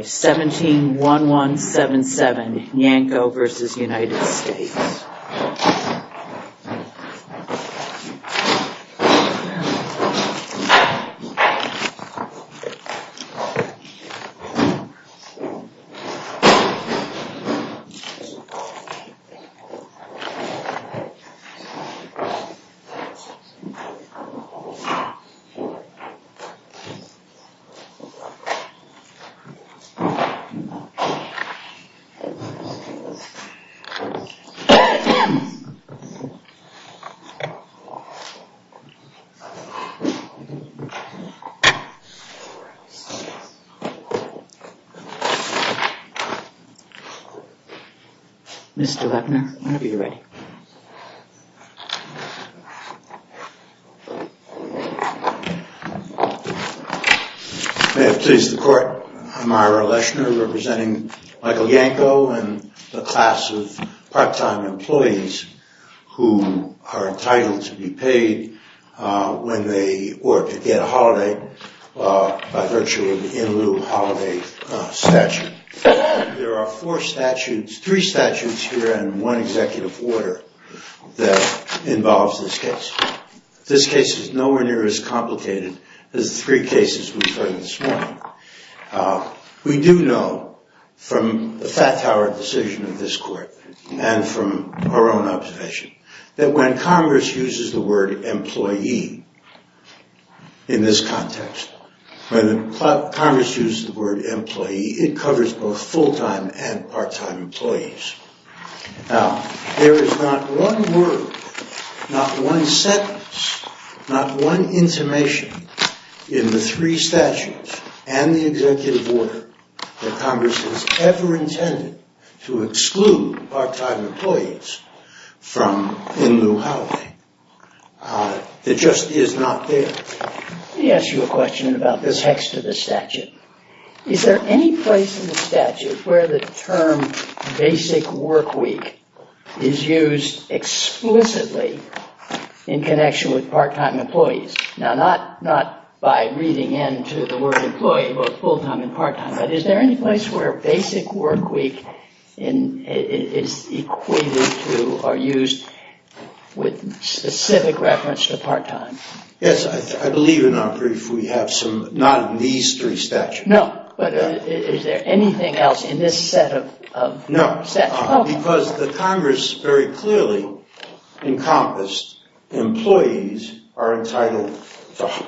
17-1177 Yanko v. United States Speaker Gil Skepner as Justice Kenda Mr. Scepter, when are you ready? Ambassador Robert S. Kenda I'm Ira Leshner representing Michael Yanko and the class of part-time employees who are entitled to be paid when they get a holiday by virtue of the In-Lieu holiday statute. There are three statutes here and one executive order that involves this case. This case is nowhere near as complicated as the three cases we've heard this morning. We do know from the fat-towered decision of this court and from our own observation that when Congress uses the word employee in this context, when Congress uses the word employee, it covers both full-time and part-time employees. Now, there is not one word, not one sentence, not one intimation in the three statutes and the executive order that Congress has ever intended to exclude part-time employees from In-Lieu holiday. It just is not there. Let me ask you a question about this hex to the statute. Is there any place in the statute where the term basic workweek is used explicitly in connection with part-time employees? Now, not by reading into the word employee, both full-time and part-time, but is there any place where basic workweek is equated to or used with specific reference to part-time? Yes, I believe in our brief we have some, not in these three statutes. No, but is there anything else in this set of statutes? No, because the Congress very clearly encompassed employees are entitled to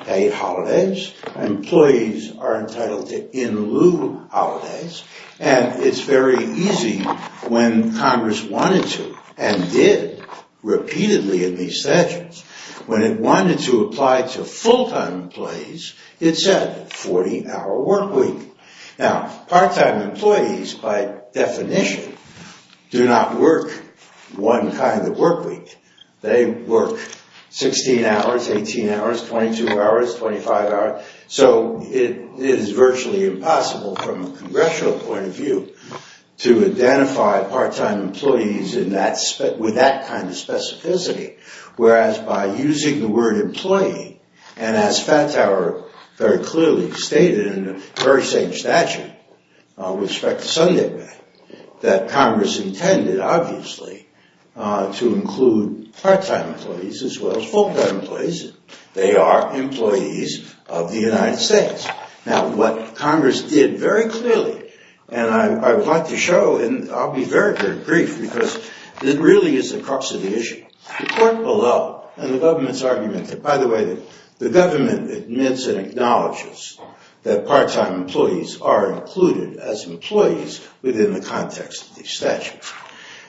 paid holidays, employees are entitled to In-Lieu holidays, and it's very easy when Congress wanted to and did repeatedly in these statutes. When it wanted to apply to full-time employees, it said 40-hour workweek. Now, part-time employees, by definition, do not work one kind of workweek. They work 16 hours, 18 hours, 22 hours, 25 hours, so it is virtually impossible from a congressional point of view to identify part-time employees with that kind of specificity. Whereas by using the word employee, and as Fattower very clearly stated in the very same statute with respect to Sunday, that Congress intended, obviously, to include part-time employees as well as full-time employees, they are employees of the United States. Now, what Congress did very clearly, and I'd like to show, and I'll be very, very brief because it really is the crux of the issue, the court below and the government's argument that, by the way, the government admits and acknowledges that part-time employees are included as employees within the context of these statutes.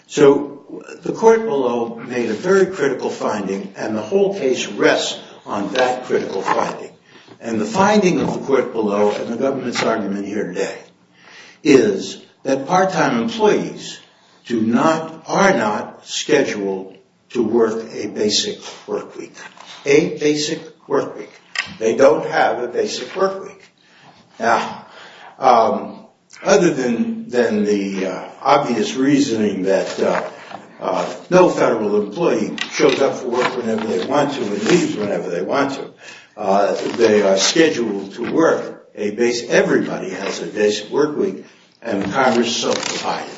So the court below made a very critical finding, and the whole case rests on that critical finding, and the finding of the court below and the government's argument here today is that part-time employees are not scheduled to work a basic workweek. A basic workweek. They don't have a basic workweek. Now, other than the obvious reasoning that no federal employee shows up for work whenever they want to and leaves whenever they want to, they are scheduled to work. Everybody has a basic workweek, and Congress subdivided.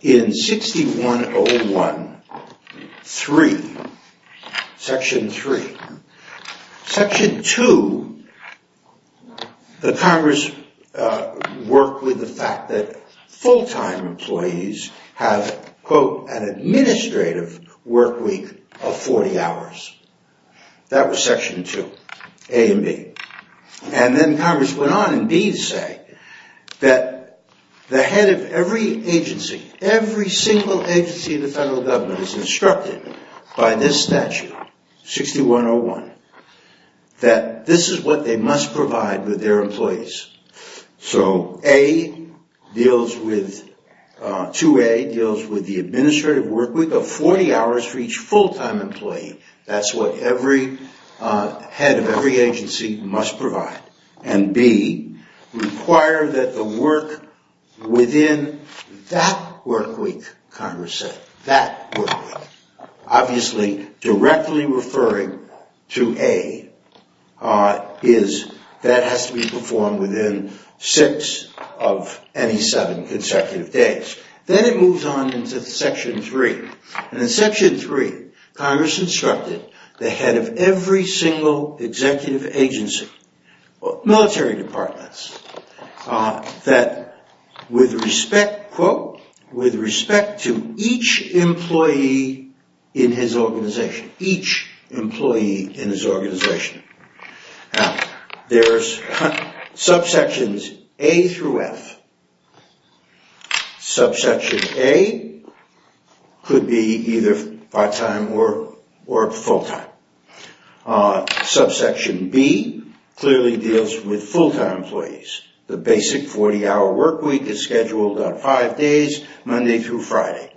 In 6101.3, Section 3, Section 2, the Congress worked with the fact that full-time employees have, quote, an administrative workweek of 40 hours. That was Section 2, A and B. And then Congress went on in B to say that the head of every agency, every single agency in the federal government is instructed by this statute, 6101, that this is what they must provide with their employees. So 2A deals with the administrative workweek of 40 hours for each full-time employee. That's what every head of every agency must provide. And B, require that the work within that workweek, Congress said, that workweek, obviously directly referring to A, is that has to be performed within 6 of any 7 consecutive days. Then it moves on into Section 3. And in Section 3, Congress instructed the head of every single executive agency, military departments, that with respect, quote, with respect to each employee in his organization, each employee in his organization, there's subsections A through F. Subsection A could be either part-time or full-time. Subsection B clearly deals with full-time employees. The basic 40-hour workweek is scheduled on 5 days, Monday through Friday.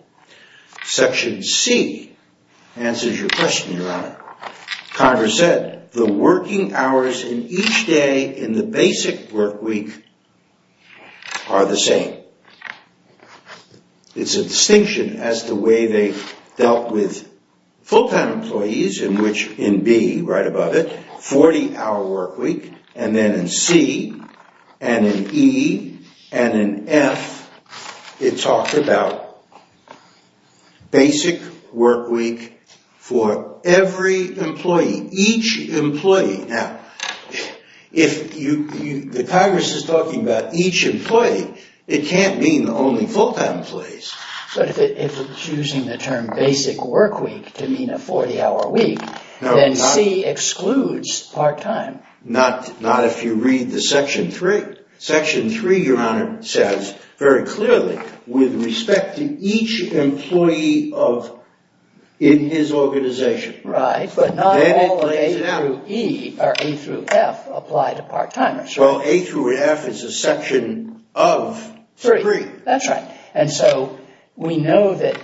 Congress said the working hours in each day in the basic workweek are the same. It's a distinction as to the way they dealt with full-time employees in which in B, right above it, 40-hour workweek, and then in C, and in E, and in F, it talked about basic workweek for every employee, each employee. Now, if the Congress is talking about each employee, it can't mean only full-time employees. But if it's using the term basic workweek to mean a 40-hour week, then C excludes part-time. Not if you read the Section 3. Section 3, Your Honor, says very clearly, with respect to each employee in his organization. Right, but not all of A through E, or A through F, apply to part-timers. Well, A through F is a section of 3. That's right. And so we know that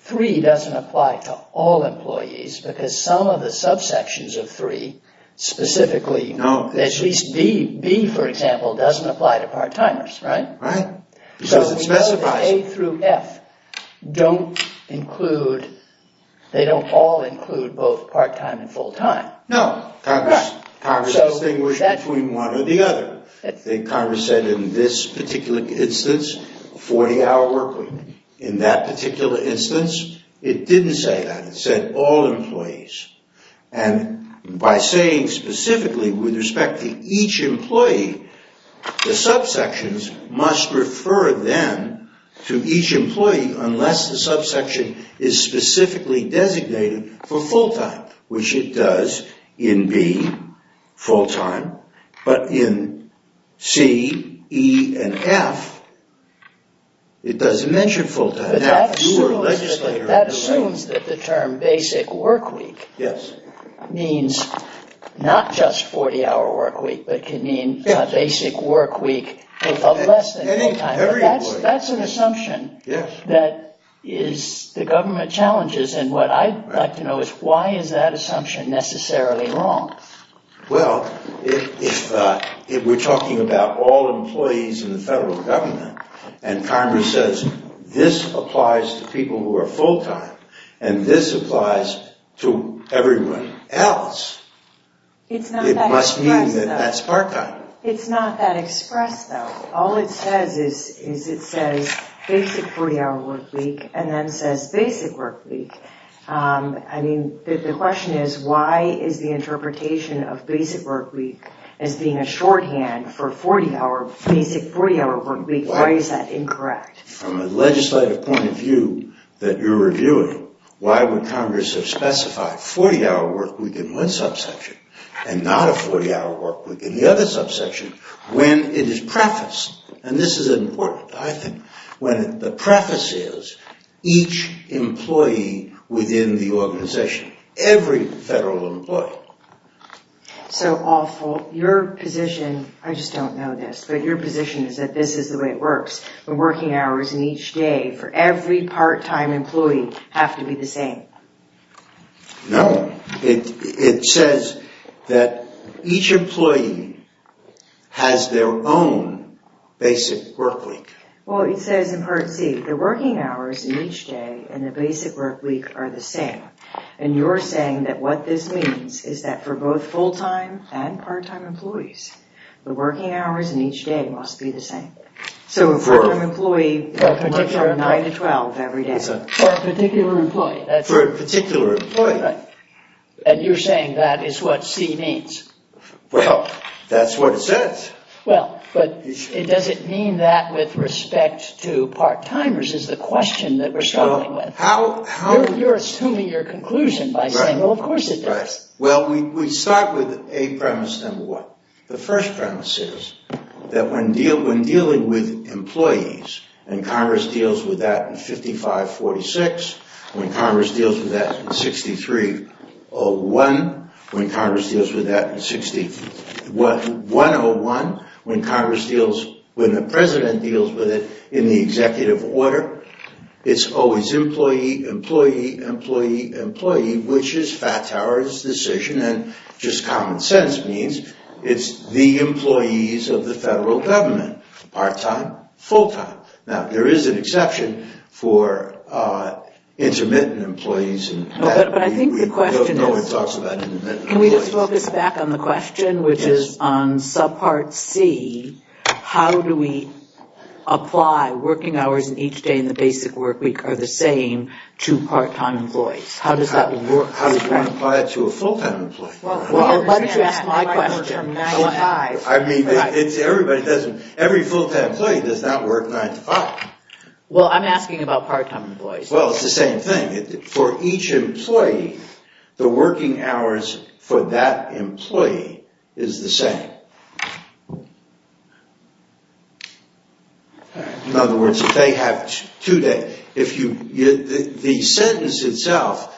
3 doesn't apply to all employees because some of the subsections of 3, specifically, at least B, for example, doesn't apply to part-timers, right? Right, because it specifies it. So we know that A through F don't include, they don't all include both part-time and full-time. No, Congress distinguished between one or the other. Congress said in this particular instance, 40-hour workweek. In that particular instance, it didn't say that. It said all employees. And by saying, specifically, with respect to each employee, the subsections must refer them to each employee unless the subsection is specifically designated for full-time, which it does in B, full-time, but in C, E, and F, it doesn't mention full-time. But that assumes that the term basic workweek means not just 40-hour workweek, but can mean a basic workweek of less than full-time. But that's an assumption that the government challenges. And what I'd like to know is, why is that assumption necessarily wrong? Well, if we're talking about all employees in the federal government, and Congress says, this applies to people who are full-time, and this applies to everyone else, it must mean that that's part-time. It's not that expressed, though. All it says is, it says basic 40-hour workweek, and then says basic workweek. I mean, the question is, why is the interpretation of basic workweek as being a shorthand for 40-hour, basic 40-hour workweek, why is that incorrect? From a legislative point of view that you're reviewing, why would Congress have specified 40-hour workweek in one subsection, and not a 40-hour workweek in the other subsection, when it is prefaced? And this is important, I think, when the preface is, each employee within the organization, every federal employee. So, Alford, your position, I just don't know this, but your position is that this is the way it works, when working hours in each day for every part-time employee have to be the same. No, it says that each employee has their own basic workweek. Well, it says in Part C, the working hours in each day and the basic workweek are the same. And you're saying that what this means is that for both full-time and part-time employees, the working hours in each day must be the same. So, for a part-time employee, it's 9 to 12 every day. For a particular employee. For a particular employee. And you're saying that is what C means? Well, that's what it says. Well, but does it mean that with respect to part-timers, is the question that we're struggling with. You're assuming your conclusion by saying, well, of course it does. Well, we start with a premise, number one. The first premise is that when dealing with employees, and Congress deals with that in 5546, when Congress deals with that in 6301, when Congress deals with that in 101, when Congress deals, when the president deals with it in the executive order, it's always employee, employee, employee, employee, which is Fattower's decision. And just common sense means it's the employees of the federal government. Part-time, full-time. Now, there is an exception for intermittent employees. But I think the question is, can we just focus back on the question, which is on subpart C, how do we apply working hours in each day in the basic work week are the same to part-time employees? How does that work? How do you want to apply it to a full-time employee? Well, why don't you ask my question? Every full-time employee does not work nine to five. Well, I'm asking about part-time employees. Well, it's the same thing. For each employee, the working hours for that employee is the same. All right. In other words, if they have two days, the sentence itself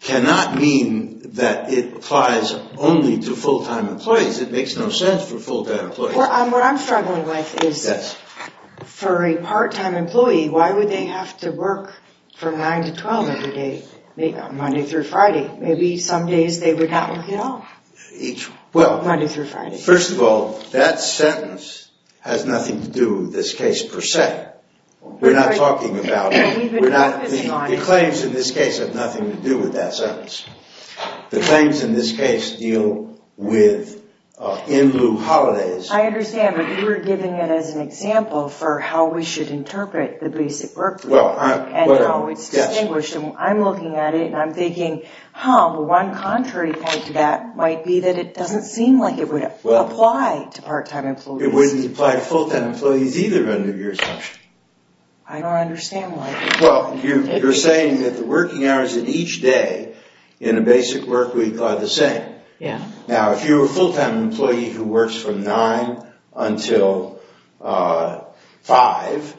cannot mean that it applies only to full-time employees. It makes no sense for full-time employees. What I'm struggling with is, for a part-time employee, why would they have to work from 9 to 12 every day, Monday through Friday? Maybe some days they would not work at all, Monday through Friday. First of all, that sentence has nothing to do with this case, per se. We're not talking about it. The claims in this case have nothing to do with that sentence. The claims in this case deal with in-lieu holidays. I understand, but you were giving it as an example for how we should interpret the basic work week, and how it's distinguished. I'm looking at it, and I'm thinking, one contrary point to that might be that it doesn't seem like it would apply to part-time employees. It wouldn't apply to full-time employees either, under your assumption. I don't understand why. Well, you're saying that the working hours in each day in a basic work week are the same. Yeah. Now, if you're a full-time employee who works from 9 until 5,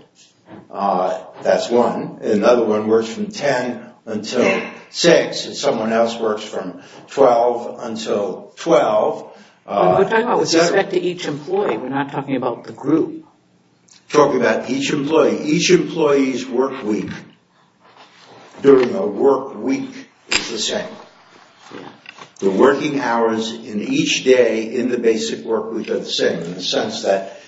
that's one. Another one works from 10 until 6. Someone else works from 12 until 12. We're talking about with respect to each employee. We're not talking about the group. Talking about each employee. Each employee's work week during a work week is the same. The working hours in each day in the basic work week are the same, in the sense that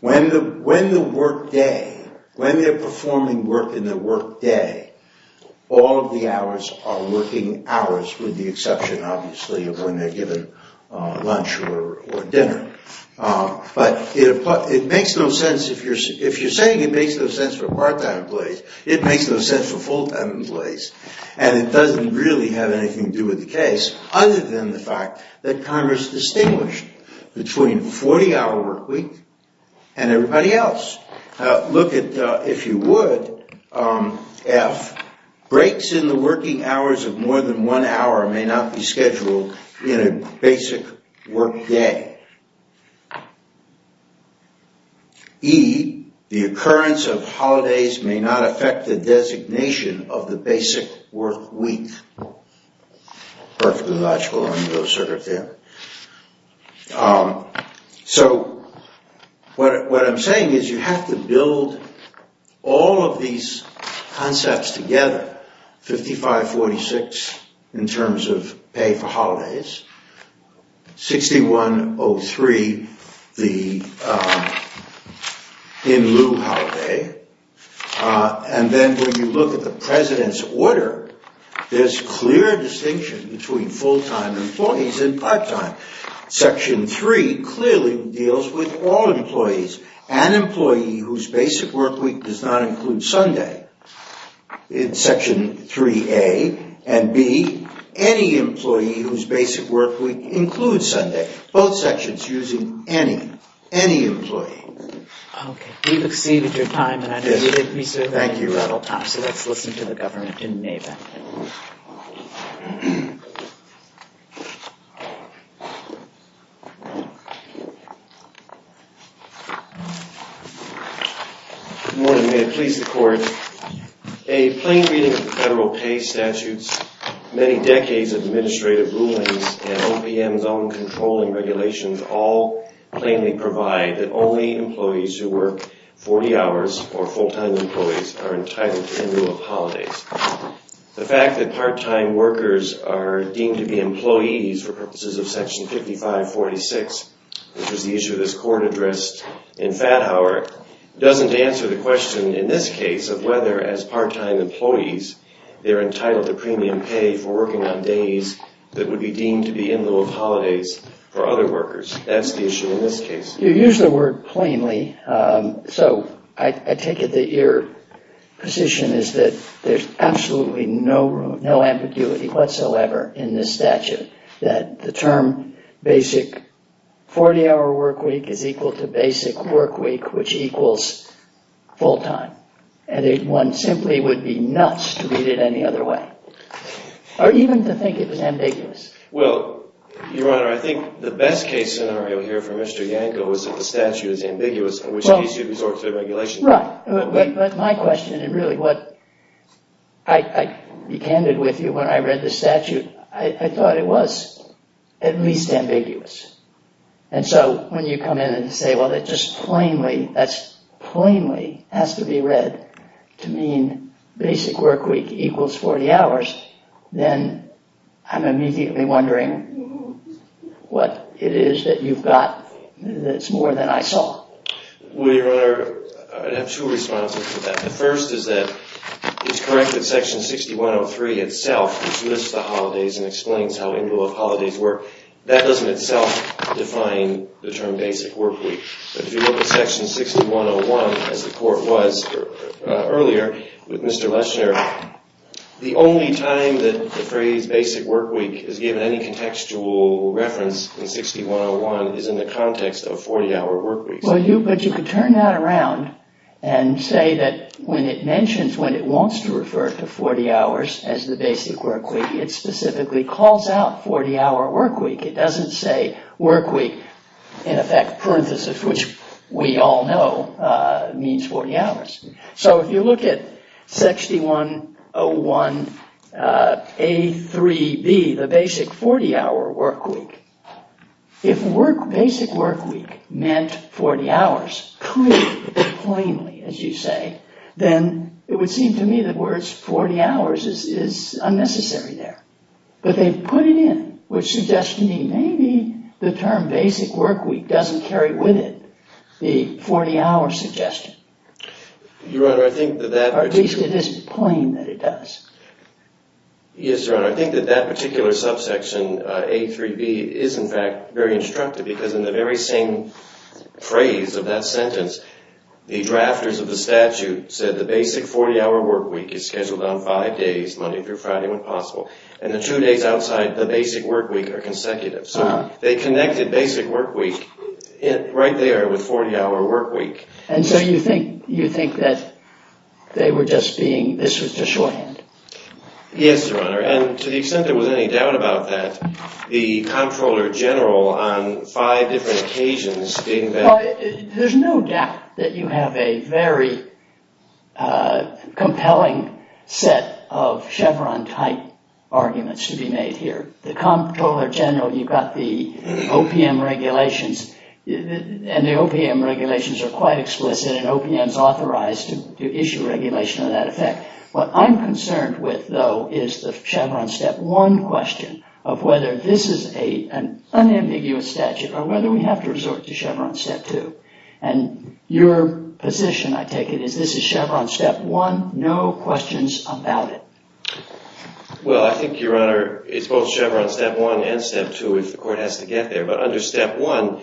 when the work day, when they're performing work in the work day, all of the hours are working hours, with the exception, obviously, of when they're given lunch or dinner. But it makes no sense if you're saying it makes no sense for part-time employees. It makes no sense for full-time employees. And it doesn't really have anything to do with the case, other than the fact that Congress distinguished between 40-hour work week and everybody else. Look at, if you would, F. Breaks in the working hours of more than one hour may not be scheduled in a basic work day. E. The occurrence of holidays may not affect the designation of the basic work week. Perfectly logical. So, what I'm saying is you have to build all of these concepts together. 55-46 in terms of pay for holidays. 61-03 the in-lieu holiday. And then when you look at the president's order, there's clear distinction between full-time employees and part-time. Section 3 clearly deals with all employees. An employee whose basic work week does not include Sunday, in Section 3a, and b, any employee whose basic work week includes Sunday. Both sections using any, any employee. Okay, you've exceeded your time. And I know you didn't reserve any rattle-top. So, let's listen to the government in NAVA. Good morning. May it please the court. A plain reading of the federal pay statutes, many decades of administrative rulings, and OPM's own controlling regulations all plainly provide that only employees who work 40 hours or full-time employees are entitled to in-lieu of holidays. The fact that part-time workers are deemed to be employees for purposes of Section 55-46, which was the issue this court addressed in Fathauer, doesn't answer the question in this case of whether, as part-time employees, they're entitled to premium pay for working on days that would be deemed to be in-lieu of holidays for other workers. That's the issue in this case. You use the word plainly. So, I take it that your position is that there's absolutely no ambiguity whatsoever in this statute. That the term basic 40-hour work week is equal to basic work week, which equals full-time. And one simply would be nuts to read it any other way. Or even to think it was ambiguous. Well, Your Honor, I think the best case scenario here for Mr. Yanko is that the statute is ambiguous, in which case you'd resort to the regulations. Right. But my question, and really what I be candid with you when I read the statute, I thought it was at least ambiguous. And so, when you come in and say, well, it just plainly, that's plainly has to be read to mean basic work week equals 40 hours, then I'm immediately wondering what it is that you've got that's more than I saw. Well, Your Honor, I'd have two responses to that. The first is that it's correct that section 6103 itself, which lists the holidays and explains how in-lieu of holidays work, that doesn't itself define the term basic work week. But if you look at section 6101, as the court was earlier with Mr. Lesher, the only time that the phrase basic work week is given any contextual reference in 6101 is in the context of 40-hour work week. Well, but you could turn that around and say that when it mentions, when it wants to refer to 40 hours as the basic work week, it specifically calls out 40-hour work week. It doesn't say work week, in effect, parenthesis, which we all know means 40 hours. So, if you look at 6101A3B, the basic 40-hour work week, if basic work week meant 40 hours, clearly, plainly, as you say, then it would seem to me that words 40 hours is unnecessary there. But they've put it in, which suggests to me maybe the term basic work week doesn't carry with it the 40-hour suggestion. Your Honor, I think that that... Or at least it is plain that it does. Yes, Your Honor. I think that that particular subsection A3B is, in fact, very instructive. Because in the very same phrase of that sentence, the drafters of the statute said the basic 40-hour work week is scheduled on five days, Monday through Friday when possible. And the two days outside the basic work week are consecutive. So, they connected basic work week right there with 40-hour work week. And so, you think that they were just being... This was just shorthand. Yes, Your Honor. And to the extent there was any doubt about that, the Comptroller General on five different occasions... There's no doubt that you have a very compelling set of Chevron-type arguments to be made here. The Comptroller General, you've got the OPM regulations. And the OPM regulations are quite explicit. And OPM is authorized to issue regulation of that effect. What I'm concerned with, though, is the Chevron step one question of whether this is an unambiguous statute or whether we have to resort to Chevron step two. And your position, I take it, is this is Chevron step one, no questions about it. Well, I think, Your Honor, it's both Chevron step one and step two if the court has to get there. But under step one,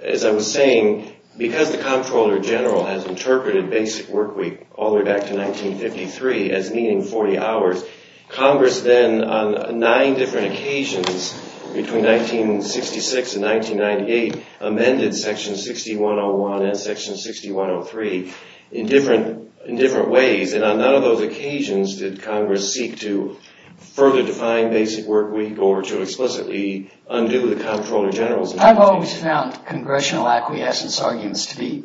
as I was saying, because the Comptroller General has interpreted basic work week all the way back to 1953 as meeting 40 hours, Congress then, on nine different occasions between 1966 and 1998, amended section 6101 and section 6103 in different ways. And on none of those occasions did Congress seek to further define basic work week or to explicitly undo the Comptroller General's... I've always found congressional acquiescence arguments to be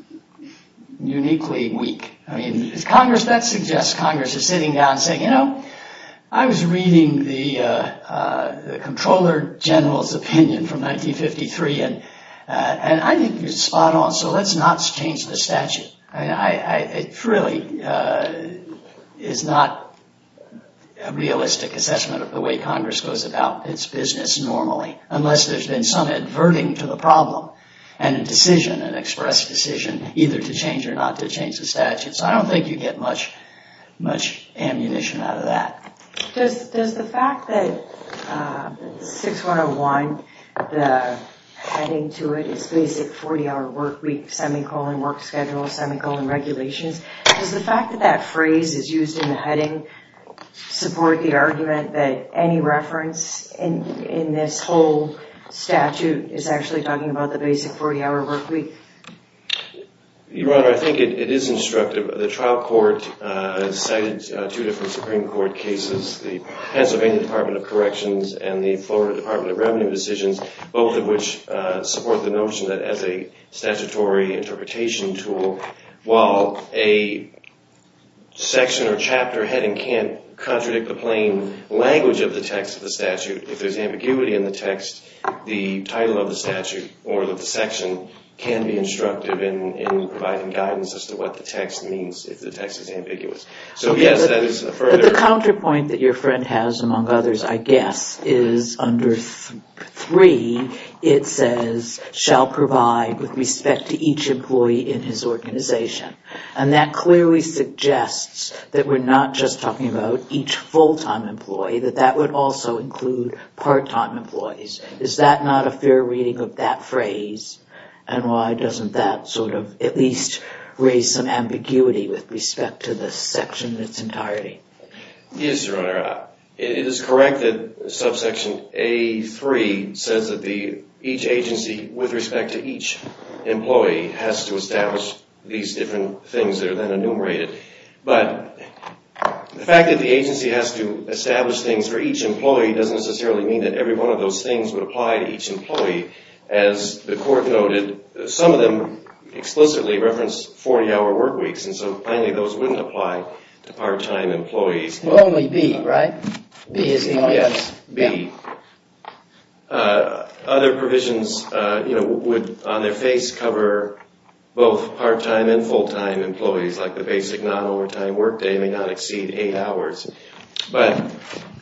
uniquely weak. I mean, that suggests Congress is sitting down saying, I was reading the Comptroller General's opinion from 1953 and I think it's spot on. So let's not change the statute. It really is not a realistic assessment of the way Congress goes about its business normally unless there's been some adverting to the problem and a decision, an express decision, either to change or not to change the statute. So I don't think you get much ammunition out of that. Does the fact that 6101, the heading to it, is basic 40-hour work week, semicolon work schedule, semicolon regulations, does the fact that that phrase is used in the heading support the argument that any reference in this whole statute is actually talking about the basic 40-hour work week? Your Honor, I think it is instructive. The trial court cited two different Supreme Court cases, the Pennsylvania Department of Corrections and the Florida Department of Revenue decisions, both of which support the notion that as a statutory interpretation tool, while a section or chapter heading can't contradict the plain language of the text of the statute, if there's ambiguity in the text, the title of the statute or the section can be instructive in providing guidance as to what the text means if the text is ambiguous. So yes, that is a further... But the counterpoint that your friend has, among others, I guess, is under 3, it says shall provide with respect to each employee in his organization. And that clearly suggests that we're not just talking about each full-time employee, Is that not a fair reading of that phrase? And why doesn't that sort of at least raise some ambiguity with respect to this section in its entirety? Yes, Your Honor. It is correct that subsection A3 says that each agency, with respect to each employee, has to establish these different things that are then enumerated. But the fact that the agency has to establish things for each employee doesn't necessarily mean that every one of those things would apply to each employee. As the court noted, some of them explicitly referenced 40-hour work weeks, and so plainly those wouldn't apply to part-time employees. Only B, right? B is the only one. Yes, B. Other provisions would, on their face, cover both part-time and full-time employees, like the basic non-overtime work day may not exceed eight hours. But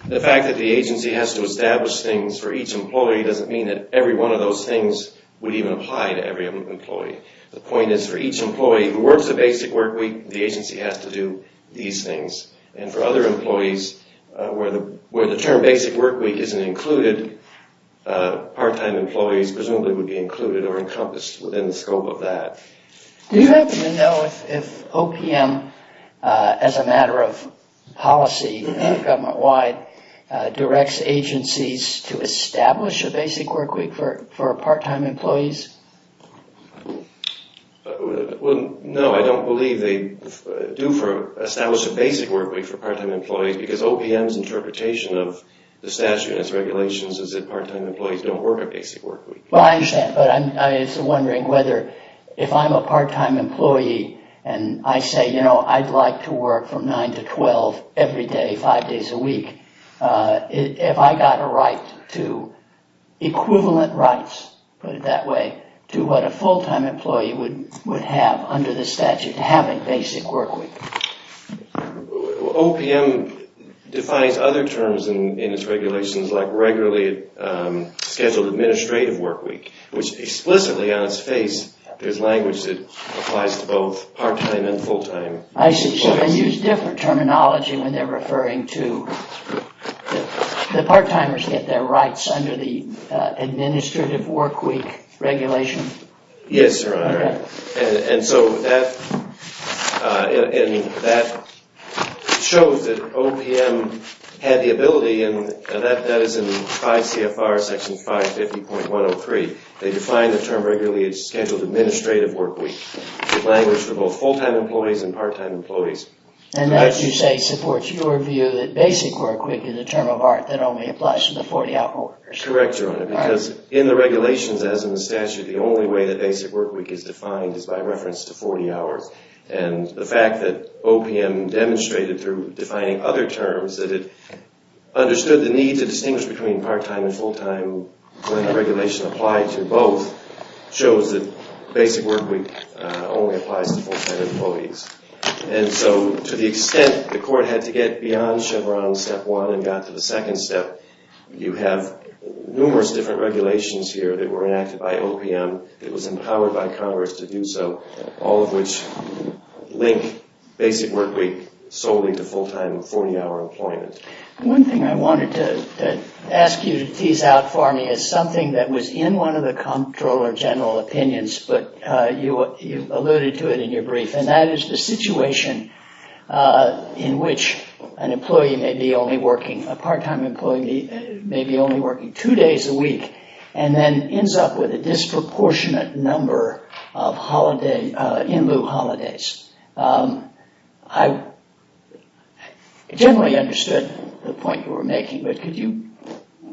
the fact that the agency has to establish things for each employee doesn't mean that every one of those things would even apply to every employee. The point is for each employee who works a basic work week, the agency has to do these things. And for other employees, where the term basic work week isn't included, part-time employees presumably would be included or encompassed within the scope of that. Do you happen to know if OPM, as a matter of policy, government-wide, directs agencies to establish a basic work week for part-time employees? Well, no, I don't believe they do for establish a basic work week for part-time employees because OPM's interpretation of the statute and its regulations is that part-time employees don't work a basic work week. Well, I understand, but I'm just wondering whether if I'm a part-time employee and I say, you know, I'd like to work from 9 to 12 every day, five days a week, have I got a right to equivalent rights, put it that way, to what a full-time employee would have under the statute to have a basic work week? OPM defines other terms in its regulations like regularly scheduled administrative work week, which explicitly on its face, there's language that applies to both part-time and full-time. I see, so they use different terminology when they're referring to the part-timers get their rights under the administrative work week regulation? Yes, Your Honor, and so that shows that OPM had the ability and that is in 5 CFR section 550.103. They define the term regularly as scheduled administrative work week, the language for both full-time employees and part-time employees. And that, you say, supports your view that basic work week is a term of art that only applies to the 40-hour workers? Correct, Your Honor, because in the regulations as in the statute, the only way that basic work week is defined is by reference to 40 hours. And the fact that OPM demonstrated through defining other terms that it understood the need to distinguish between part-time and full-time when the regulation applied to both shows that basic work week only applies to full-time employees. And so to the extent the court had to get beyond Chevron step one and got to the second step, you have numerous different regulations here that were enacted by OPM that was empowered by Congress to do so, all of which link basic work week solely to full-time 40-hour employment. One thing I wanted to ask you to tease out for me is something that was in one of the comptroller general opinions, but you alluded to it in your brief, and that is the situation in which an employee may be only working, a part-time employee may be only working two days a week and then ends up with a disproportionate number of in-lieu holidays. I generally understood the point you were making, but could you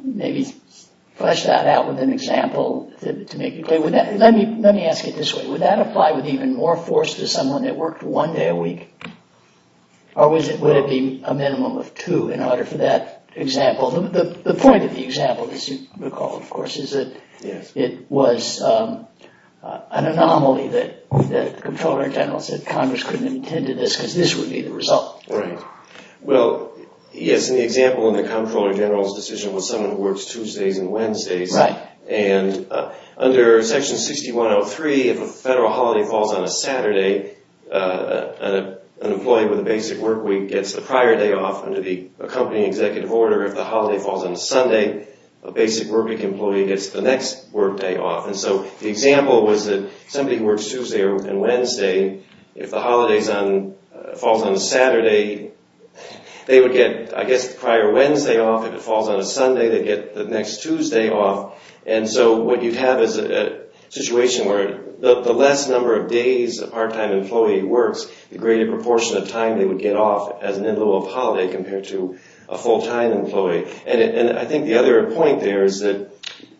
maybe flesh that out with an example to make it clear? Let me ask it this way. Would that apply with even more force to someone that worked one day a week? Or would it be a minimum of two in order for that example? The point of the example, as you recall, of course, is that it was an anomaly that the comptroller general said Congress couldn't intend to this because this would be the result. Right. Well, yes, in the example in the comptroller general's decision was someone who works Tuesdays and Wednesdays. Right. And under Section 6103, if a federal holiday falls on a Saturday, an employee with a basic work week gets the prior day off and to be accompanying executive order. If the holiday falls on a Sunday, a basic work week employee gets the next work day off. And so the example was that somebody who works Tuesday and Wednesday, if the holiday falls on a Saturday, they would get, I guess, the prior Wednesday off. If it falls on a Sunday, they get the next Tuesday off. And so what you'd have is a situation where the less number of days a part-time employee works, the greater proportion of time they would get off as an in-lieu of holiday compared to a full-time employee. And I think the other point there is that...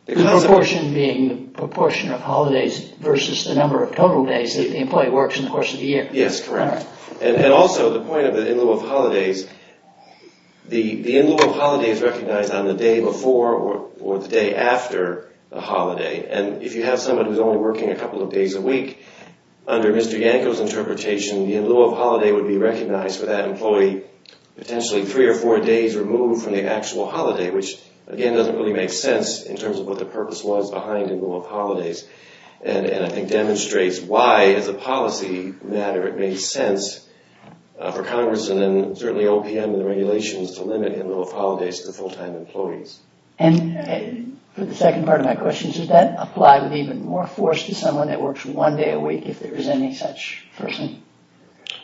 The proportion being the proportion of holidays versus the number of total days that the employee works in the course of the year. Yes, correct. And also the point of the in-lieu of holidays, the in-lieu of holidays is recognized on the day before or the day after the holiday. And if you have somebody who's only working a couple of days a week, under Mr. Yanko's interpretation, the in-lieu of holiday would be recognized for that employee potentially three or four days removed from the actual holiday, which, again, doesn't really make sense in terms of what the purpose was behind in-lieu of holidays. And I think demonstrates why, as a policy matter, it made sense for Congress and then certainly OPM and the regulations to limit in-lieu of holidays to full-time employees. And for the second part of my question, does that apply with even more force to someone that works one day a week if there is any such person?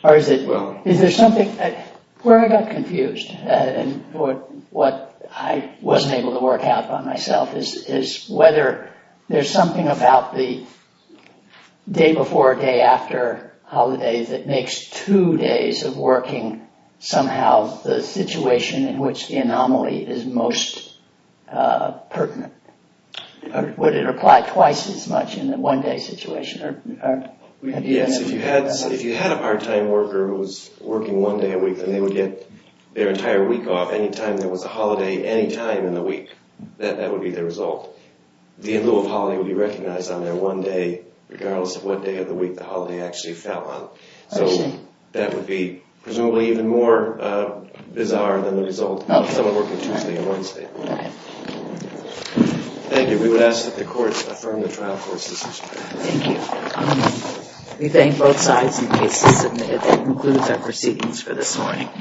Or is there something where I got confused and what I wasn't able to work out by myself is whether there's something about the day before, day after holidays that makes two days of working somehow the situation in which the anomaly is most pertinent. Would it apply twice as much in a one-day situation? Yes, if you had a part-time worker who was working one day a week, then they would get their entire week off any time there was a holiday any time in the week. That would be the result. The in-lieu of holiday would be recognized on their one day regardless of what day of the week the holiday actually fell on. So that would be presumably even more bizarre than the result of someone working Tuesday and Wednesday. Thank you. We would ask that the court affirm the trial court's decision. Thank you. We thank both sides and cases submitted that conclude their proceedings for this morning.